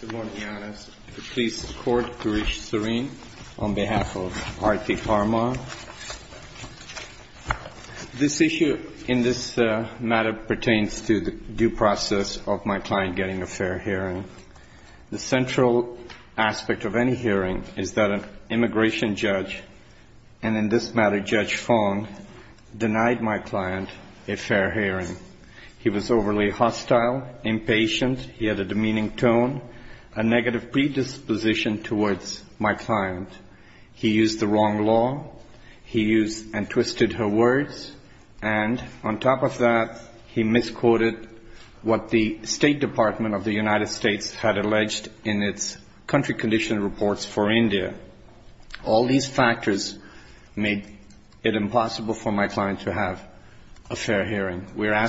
Good morning, Your Honors. I would please the Court to reach serene on behalf of R.T. PARMAR. This issue in this matter pertains to the due process of my client getting a fair hearing. The central aspect of any hearing is that an immigration judge, and in this patient, he had a demeaning tone, a negative predisposition towards my client. He used the wrong law. He used and twisted her words. And on top of that, he misquoted what the State Department of the United States had alleged in its country condition reports for India. All these factors made it impossible for my client to have a fair hearing. We are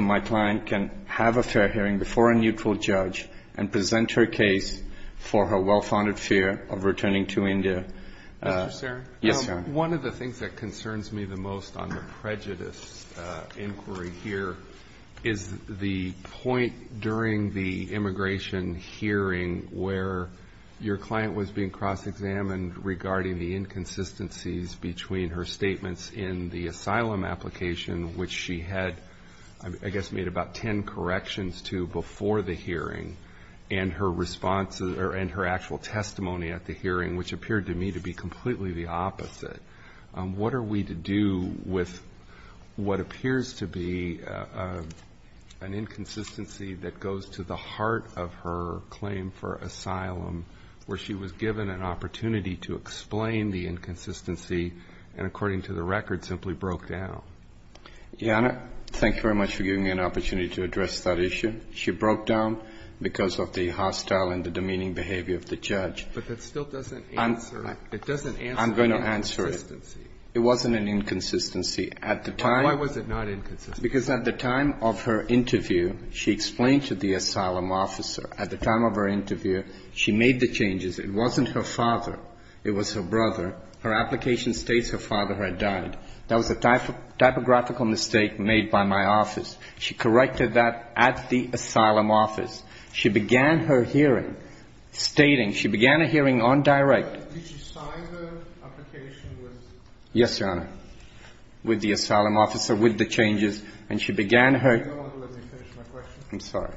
my client can have a fair hearing before a neutral judge and present her case for her well-founded fear of returning to India. JUSTICE ALITO Mr. Saran? MR. SARAN Yes, Your Honor. JUSTICE ALITO One of the things that concerns me the most on the prejudice inquiry here is the point during the immigration hearing where your client was being cross-examined regarding the inconsistencies between her statements in the asylum application, which she had, I guess, made about ten corrections to before the hearing, and her actual testimony at the hearing, which appeared to me to be completely the opposite. What are we to do with what appears to be an inconsistency that goes to the heart of her claim for asylum, where she was given an opportunity to explain the inconsistency and, according to the record, simply broke down? MR. SARAN Your Honor, thank you very much for giving me an opportunity to address that issue. She broke down because of the hostile and the demeaning behavior of the judge. JUSTICE ALITO But that still doesn't answer the inconsistency. MR. SARAN I'm going to answer it. It wasn't an inconsistency. At the time JUSTICE ALITO Why was it not inconsistent? MR. SARAN Because at the time of her interview, she explained to the asylum officer, at the time of her interview, she made the changes. It wasn't her father. It was her brother. Her application states her father had died. That was a typographical mistake made by my office. She corrected that at the asylum office. She began her hearing stating, she began a hearing on direct. JUSTICE ALITO But did she sign her application with the asylum officer? MR. SARAN Yes, Your Honor, with the asylum officer, with the changes. And she began her JUSTICE ALITO No longer let me finish my question. MR. SARAN I'm sorry.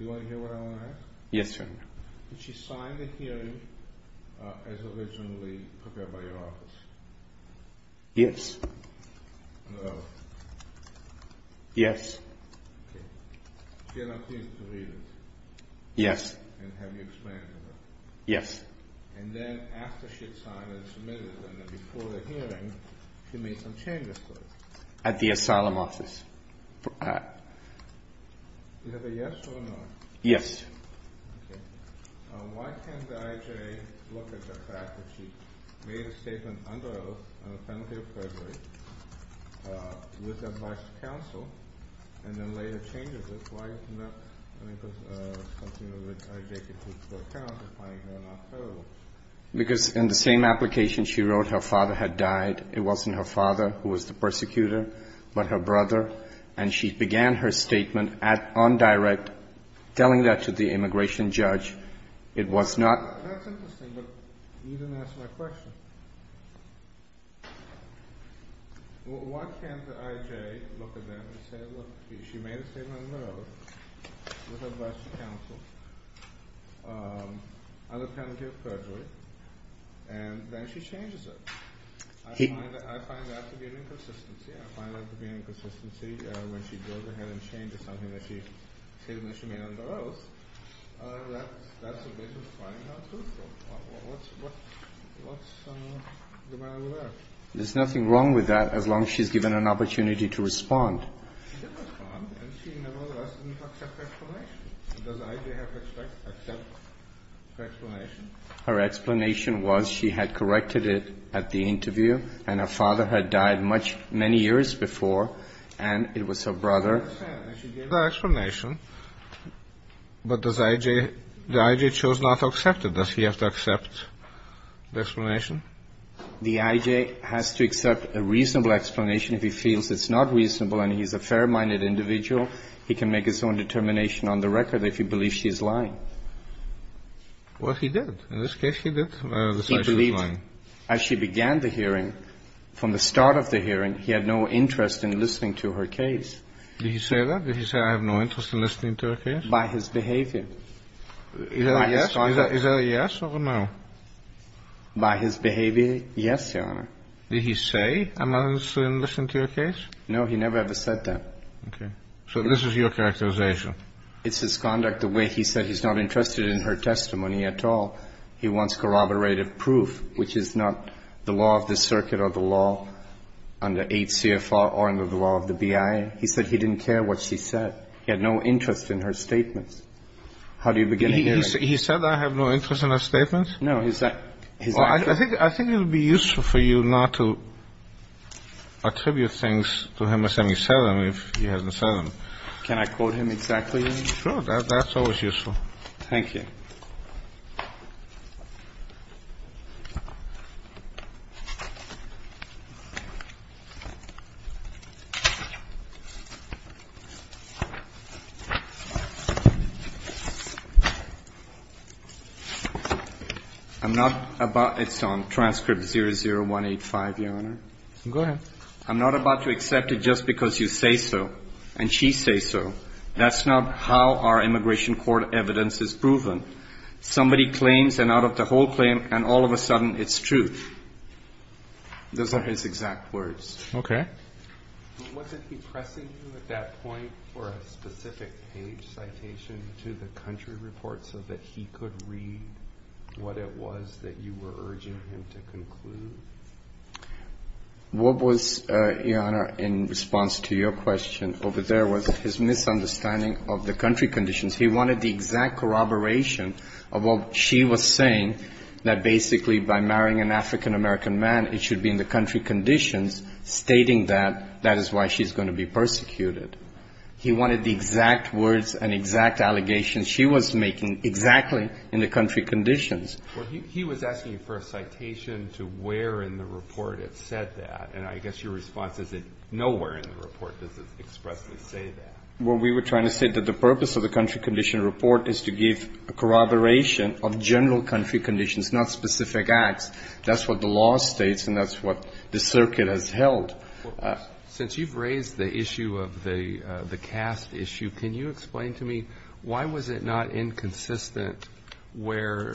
JUSTICE ALITO MR. SARAN Do you want to hear what I want to ask? JUSTICE ALITO Yes, Your Honor. MR. SARAN Did she sign the hearing as originally prepared by your office? JUSTICE ALITO Yes. MR. SARAN No. JUSTICE ALITO Yes. MR. SARAN Okay. MR. SARAN She had not been able to read it? JUSTICE ALITO Yes. MR. SARAN JUSTICE ALITO Yes. MR. SARAN And then after she had signed and submitted, and then before the hearing, she made some changes to it? JUSTICE ALITO At the asylum office. MR. SARAN Is that a yes or a no? JUSTICE ALITO Yes. MR. SARAN Okay. Why can't the IJA look at the fact that she made a statement under oath on the penalty of perjury, with the advice of counsel, and then later changed it? Why is it not something that the IJA can take into account, if I am not wrong? JUSTICE ALITO MR. SARAN Okay. MR. SARAN It was her father. MR. SARAN Okay. MR. SARAN Okay. MR. SARAN Okay. MR. SARAN That's it. MR. SARAN Okay. MR. SARAN And then she had a different opinion. MR. SARAN And did she change it? No, she didn't. All right. MR. SARAN Okay. MR. SARAN Okay. MR. SARAN Well, I have to go back to you about the IJA. MR. SARAN Okay. I mean, I don't find that to be an inconsistency. When she goes ahead and changes something that she said initially, I mean, under oath, that's a way to find out truth. What's the matter with that? MR. SARAN There's nothing wrong with that, as long as she's given an opportunity to respond. MR. SARAN She did respond, and she nevertheless didn't accept her explanation. Does the IJA have to accept her explanation? And she didn't respond. MR. SARAN Okay. MR. SARAN And she didn't respond. MR. SARAN Okay. MR. SARAN The IJA doesn't have to accept her explanation. The IJA has to accept her explanation. I don't understand. I should give her explanation. But does IJA the IJA chose not to accept it. Does he have to accept the explanation? MR. SARAN The IJA has to accept a reasonable explanation. If he feels it's not reasonable, and he's a fair-minded individual, he can make his own determination on the record if he believes she is lying. Well, he did. In this case, he did decide she was lying. He believed, as she began the hearing, from the start of the hearing, he had no interest in listening to her case. Did he say that? Did he say, I have no interest in listening to your case? By his behavior. Is that a yes? Is that a yes or a no? By his behavior, yes, Your Honor. Did he say, I'm not interested in listening to your case? No, he never ever said that. Okay. So this is your characterization. It's his conduct, the way he said he's not interested in her testimony at all. He wants corroborative proof, which is not the law of the circuit or the law under 8 CFR or under the law of the BIA. He said he didn't care what she said. He had no interest in her statements. How do you begin a hearing? He said, I have no interest in her statements? No. I think it would be useful for you not to attribute things to him as having said them, if he hasn't said them. Can I quote him exactly? Sure. That's always useful. Thank you. I'm not about, it's on transcript 00185, Your Honor. Go ahead. I'm not about to accept it just because you say so and she says so. That's not how our immigration court evidence is proven. Somebody claims and out of the whole claim and all of a sudden it's true. Those are his exact words. Okay. Wasn't he pressing you at that point for a specific page citation to the country report so that he could read what it was that you were urging him to conclude? What was, Your Honor, in response to your question over there was his misunderstanding of the country conditions. He wanted the exact corroboration of what she was saying, that basically by marrying an African-American man it should be in the country conditions, stating that that is why she's going to be persecuted. He wanted the exact words and exact allegations she was making exactly in the country conditions. Well, he was asking for a citation to where in the report it said that. And I guess your response is that nowhere in the report does it expressly say that. Well, we were trying to say that the purpose of the country condition report is to give a corroboration of general country conditions, not specific acts. That's what the law states and that's what the circuit has held. Since you've raised the issue of the caste issue, can you explain to me why was it not inconsistent where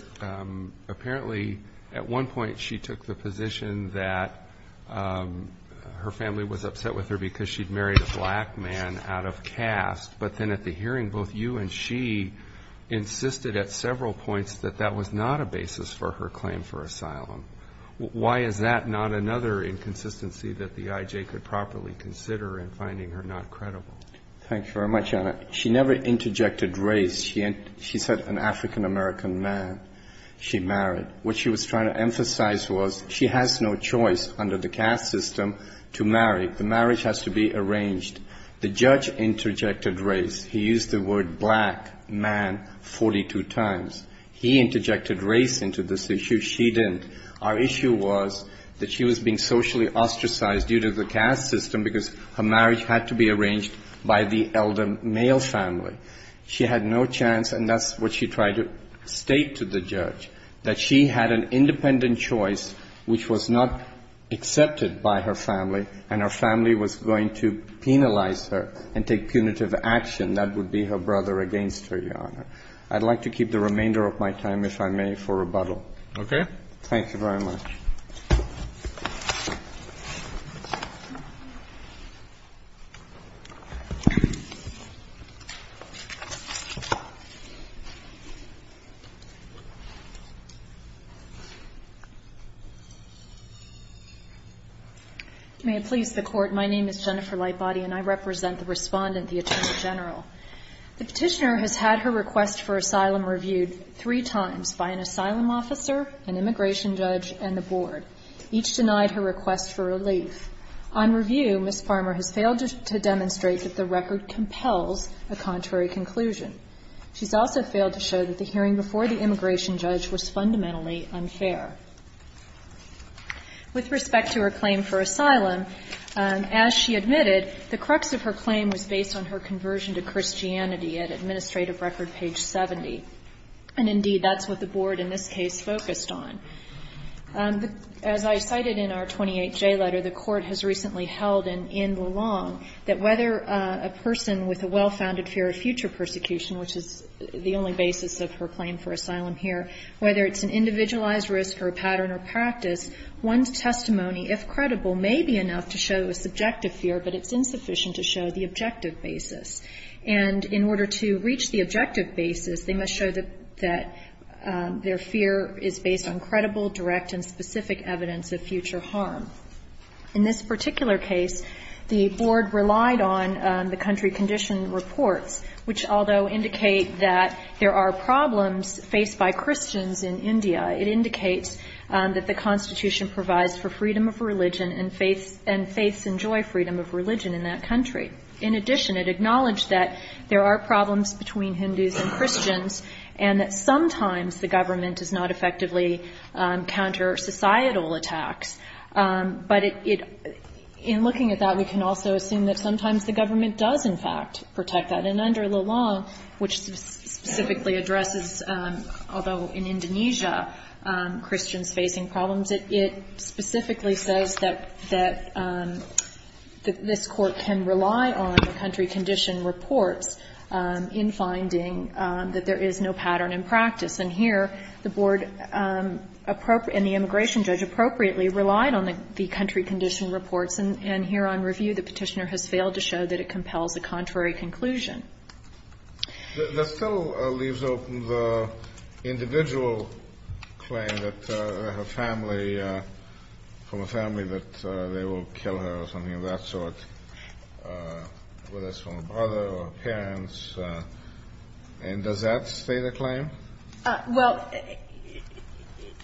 apparently at one point she took the position that her family was upset with her because she'd married a black man out of caste, but then at the hearing both you and she insisted at several points that that was not a basis for her claim for asylum. Why is that not another inconsistency that the IJ could properly consider in finding her not credible? Thank you very much, Anna. She never interjected race. She said an African-American man she married. What she was trying to emphasize was she has no choice under the caste system to marry. The marriage has to be arranged. The judge interjected race. He used the word black man 42 times. He interjected race into this issue. She didn't. Our issue was that she was being socially ostracized due to the caste system because her marriage had to be arranged by the elder male family. She had no chance, and that's what she tried to state to the judge, that she had an independent choice which was not accepted by her family, and her family was going to penalize her and take punitive action. That would be her brother against her, Your Honor. I'd like to keep the remainder of my time, if I may, for rebuttal. Okay. Thank you very much. May it please the Court. My name is Jennifer Lightbody, and I represent the Respondent, the Attorney General. The Petitioner has had her request for asylum reviewed three times by an asylum officer, an immigration judge, and the Board. Each denied her request for relief. On review, Ms. Farmer has failed to demonstrate that the record compels a contrary conclusion. She's also failed to show that the hearing before the immigration judge was fundamentally unfair. With respect to her claim for asylum, as she admitted, the crux of her claim was based on her conversion to Christianity at administrative record page 70. And, indeed, that's what the Board in this case focused on. As I cited in our 28J letter, the Court has recently held an in the long that whether a person with a well-founded fear of future persecution, which is the only basis of her claim for asylum here, whether it's an individualized risk or a pattern or practice, one's testimony, if credible, may be enough to show a subjective fear, but it's insufficient to show the objective basis. And in order to reach the objective basis, they must show that their fear is based on credible, direct, and specific evidence of future harm. In this particular case, the Board relied on the country condition reports, which although indicate that there are problems faced by Christians in India, it indicates that the Constitution provides for freedom of religion and faiths enjoy freedom of religion in that country. In addition, it acknowledged that there are problems between Hindus and Christians and that sometimes the government does not effectively counter societal attacks. But it – in looking at that, we can also assume that sometimes the government does, in fact, protect that. And under the law, which specifically addresses, although in Indonesia, Christians facing problems, it specifically says that this Court can rely on country condition reports in finding that there is no pattern in practice. And here, the Board and the immigration judge appropriately relied on the country condition reports, and here on review, the Petitioner has failed to show that it compels the contrary conclusion. The bill leaves open the individual claim that her family – from a family that they will kill her or something of that sort, whether it's from a brother or parents. And does that stay the claim? Well,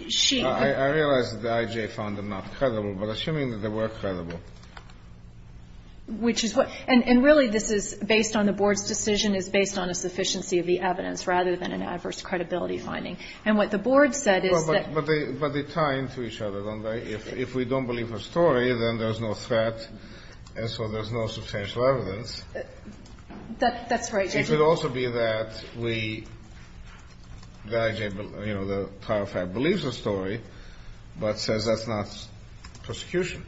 she – I realize that the IJ found them not credible, but assuming that they were credible. Which is what – and really, this is based on – the Board's decision is based on a sufficiency of the evidence rather than an adverse credibility finding. And what the Board said is that – Well, but they tie into each other, don't they? If we don't believe her story, then there's no threat, and so there's no substantial evidence. That's right, Judge. It could also be that we – the IJ, you know, the trial fact, believes her story, but says that's not prosecution.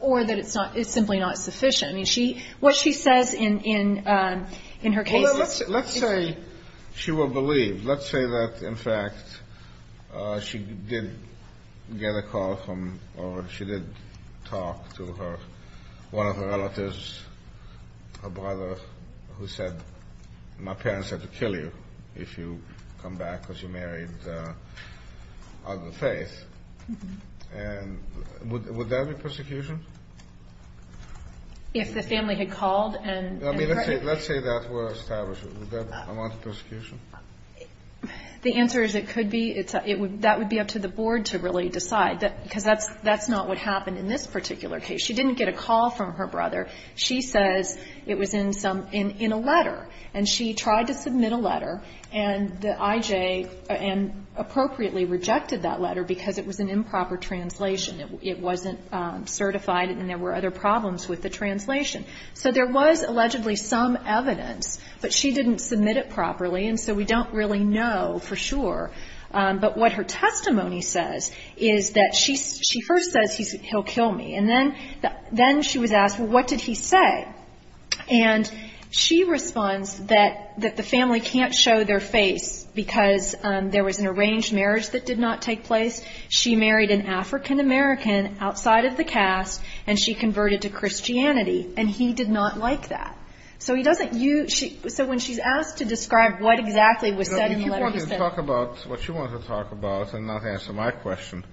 Or that it's not – it's simply not sufficient. I mean, she – what she says in her case is – Well, let's say she will believe. Let's say that, in fact, she did get a call from – or she did talk to her – one of her relatives, her brother, who said, my parents had to kill you if you come back because you married other faith. And would that be prosecution? If the family had called and heard it? I mean, let's say that were established. Would that amount to prosecution? The answer is it could be. That would be up to the Board to really decide, because that's not what happened in this particular case. She didn't get a call from her brother. She says it was in some – in a letter. And she tried to submit a letter, and the IJ – and appropriately rejected that because it was an improper translation. It wasn't certified, and there were other problems with the translation. So there was allegedly some evidence, but she didn't submit it properly. And so we don't really know for sure. But what her testimony says is that she first says he'll kill me. And then she was asked, well, what did he say? And she responds that the family can't show their face because there was an arranged marriage that did not take place. She married an African-American outside of the caste, and she converted to Christianity. And he did not like that. So he doesn't use – so when she's asked to describe what exactly was said in the letter, he said – So if you want to talk about what you want to talk about and not answer my question.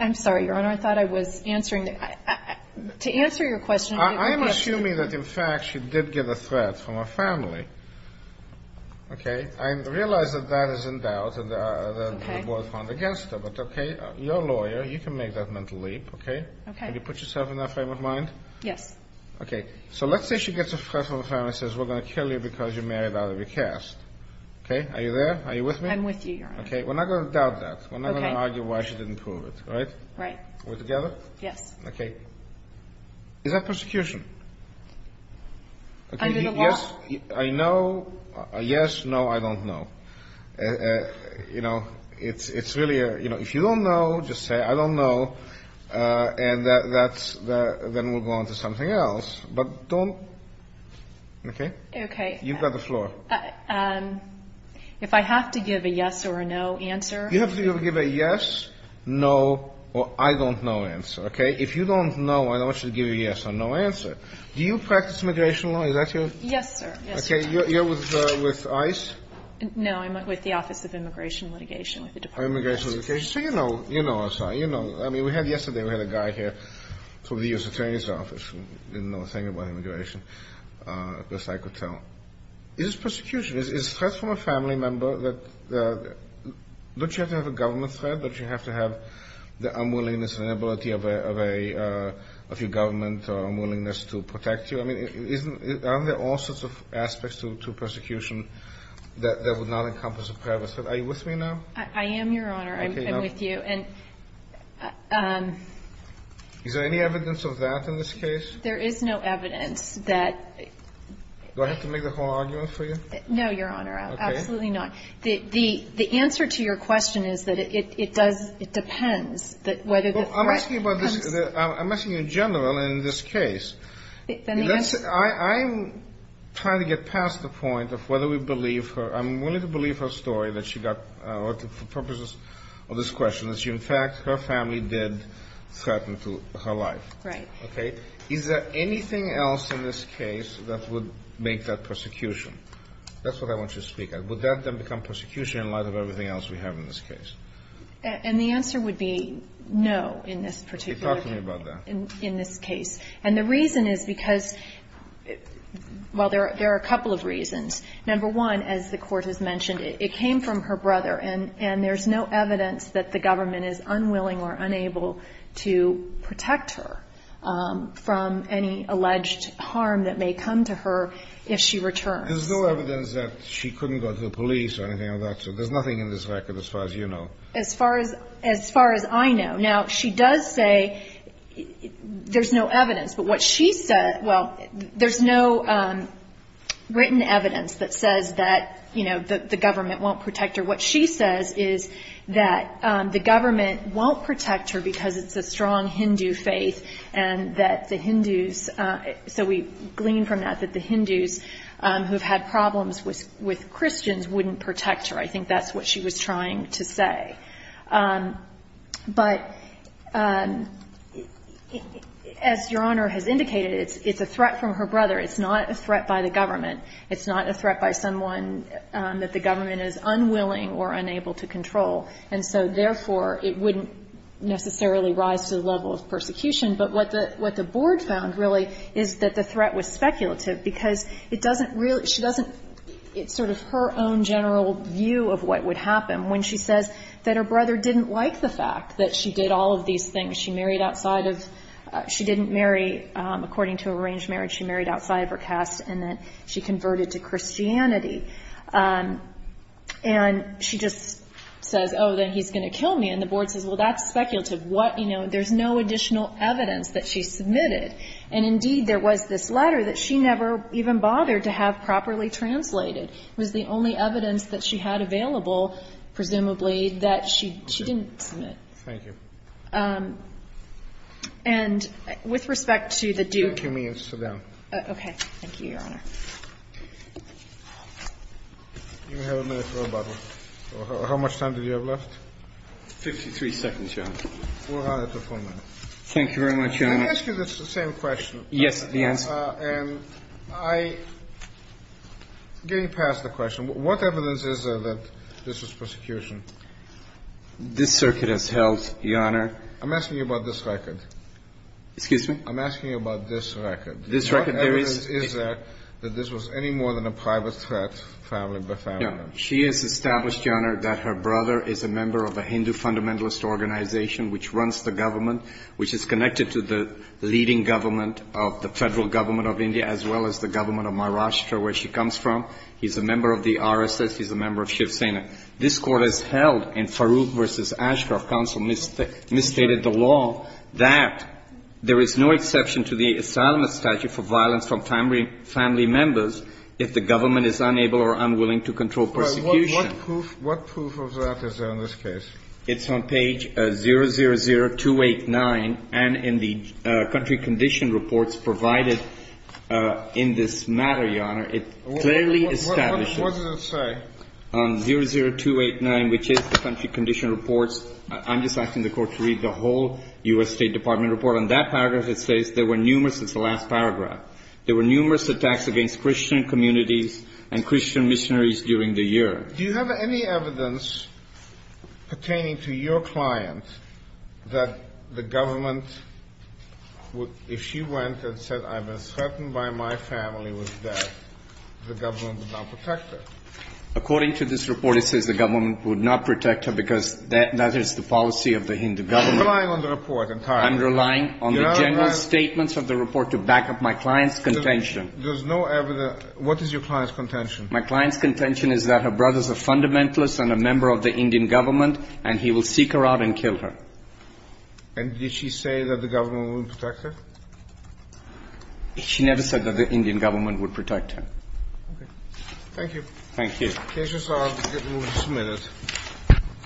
I'm sorry, Your Honor. I thought I was answering the – to answer your question, I didn't get the question. I'm assuming that, in fact, she did get a threat from her family. Okay? I realize that that is in doubt and that the board found against her. But, okay, you're a lawyer. You can make that mental leap, okay? Okay. Can you put yourself in that frame of mind? Yes. Okay. So let's say she gets a threat from her family and says, we're going to kill you because you're married out of your caste. Okay? Are you there? Are you with me? I'm with you, Your Honor. Okay. We're not going to doubt that. Okay. We're not going to argue why she didn't prove it. Right? Right. We're together? Yes. Okay. Is that persecution? Under the law? Yes. I know. Yes. No, I don't know. You know, it's really a – you know, if you don't know, just say, I don't know. And that's – then we'll go on to something else. But don't – okay? Okay. You've got the floor. If I have to give a yes or a no answer? You have to give a yes, no, or I don't know answer. Okay? If you don't know, I don't want you to give a yes or no answer. Do you practice immigration law? Is that your – Yes, sir. Yes, sir. Okay. You're with ICE? I'm with the Office of Immigration Litigation with the Department of Justice. Oh, Immigration Litigation. So you know. You know, I'm sorry. You know. I mean, we had – yesterday, we had a guy here from the U.S. Attorney's Office who didn't know a thing about immigration, best I could tell. Is this persecution? Is it a threat from a family member that – don't you have to have a government threat? Don't you have to have the unwillingness and inability of a family member? I mean, isn't – aren't there all sorts of aspects to persecution that would not encompass a preface? Are you with me now? I am, Your Honor. Okay. I'm with you. And – Is there any evidence of that in this case? There is no evidence that – Do I have to make the whole argument for you? No, Your Honor. Okay. Absolutely not. The answer to your question is that it does – it depends that whether the threat comes – Well, I'm asking about the threat. I'm asking in general in this case. Then the answer – I'm trying to get past the point of whether we believe her. I'm willing to believe her story that she got – or for purposes of this question, that she, in fact, her family did threaten to her life. Right. Okay? Is there anything else in this case that would make that persecution? That's what I want you to speak at. Would that then become persecution in light of everything else we have in this case? No. No. No. No. No. No. No. No. No. No. No. No. No. No. No. We are talking about the persecution in this case. I have nothing more to say about that. In this case. And the reason is because – well, there are a couple of reasons. Number one, as the Court has mentioned, it came from her brother. And there is no evidence that the government is unwilling or unable to protect her from any alleged harm that may come to her if she returns. There's no evidence that she couldn't go to the police or anything like that, so there's nothing in this record as far as you know. As far as I know. Now, she does say there's no evidence, but what she says – well, there's no written evidence that says that, you know, the government won't protect her. What she says is that the government won't protect her because it's a strong Hindu faith and that the Hindus – so we glean from that that the Hindus who have had problems with Christians wouldn't protect her. I think that's what she was trying to say. But as Your Honor has indicated, it's a threat from her brother. It's not a threat by the government. It's not a threat by someone that the government is unwilling or unable to control. And so, therefore, it wouldn't necessarily rise to the level of persecution. But what the Board found, really, is that the threat was speculative because it doesn't really – she doesn't – it's sort of her own general view of what would happen when she says that her brother didn't like the fact that she did all of these things. She married outside of – she didn't marry according to arranged marriage. She married outside of her caste and that she converted to Christianity. And she just says, oh, then he's going to kill me. And the Board says, well, that's speculative. What – you know, there's no additional evidence that she submitted. And indeed, there was this letter that she never even bothered to have properly translated. It was the only evidence that she had available, presumably, that she didn't submit. Thank you. And with respect to the due – Take your minutes. Sit down. Okay. Thank you, Your Honor. You have a minute for a bubble. How much time do you have left? Fifty-three seconds, Your Honor. Four minutes or four minutes. Thank you very much, Your Honor. Can I ask you the same question? Yes, the answer. And I – getting past the question, what evidence is there that this was persecution? This circuit has held, Your Honor. I'm asking you about this record. Excuse me? I'm asking you about this record. This record – What evidence is there that this was any more than a private threat, family by family? No. She has established, Your Honor, that her brother is a member of a Hindu fundamentalist organization which runs the government, which is connected to the leading government of the federal government of India, as well as the government of Maharashtra, where she comes from. He's a member of the RSS. He's a member of Shiv Sena. This court has held, and Farooq v. Ashcroft counsel misstated the law, that there is no exception to the asylum statute for violence from family members if the government is unable or unwilling to control persecution. What proof of that is there in this case? It's on page 000289, and in the country condition reports provided in this matter, Your Honor, it clearly establishes – What does it say? 00289, which is the country condition reports. I'm just asking the court to read the whole U.S. State Department report. On that paragraph, it says there were numerous – it's the last paragraph – there were numerous attacks against Christian communities and Christian missionaries during the year. Do you have any evidence pertaining to your client that the government – if she went and said, I was threatened by my family with death, the government would not protect her? According to this report, it says the government would not protect her because that is the policy of the Hindu government. I'm relying on the report entirely. I'm relying on the general statements of the report to back up my client's contention. There's no evidence – what is your client's contention? My client's contention is that her brothers are fundamentalists and a member of the Indian government, and he will seek her out and kill her. And did she say that the government would protect her? She never said that the Indian government would protect her. Okay. Thank you. Thank you. The cases are submitted.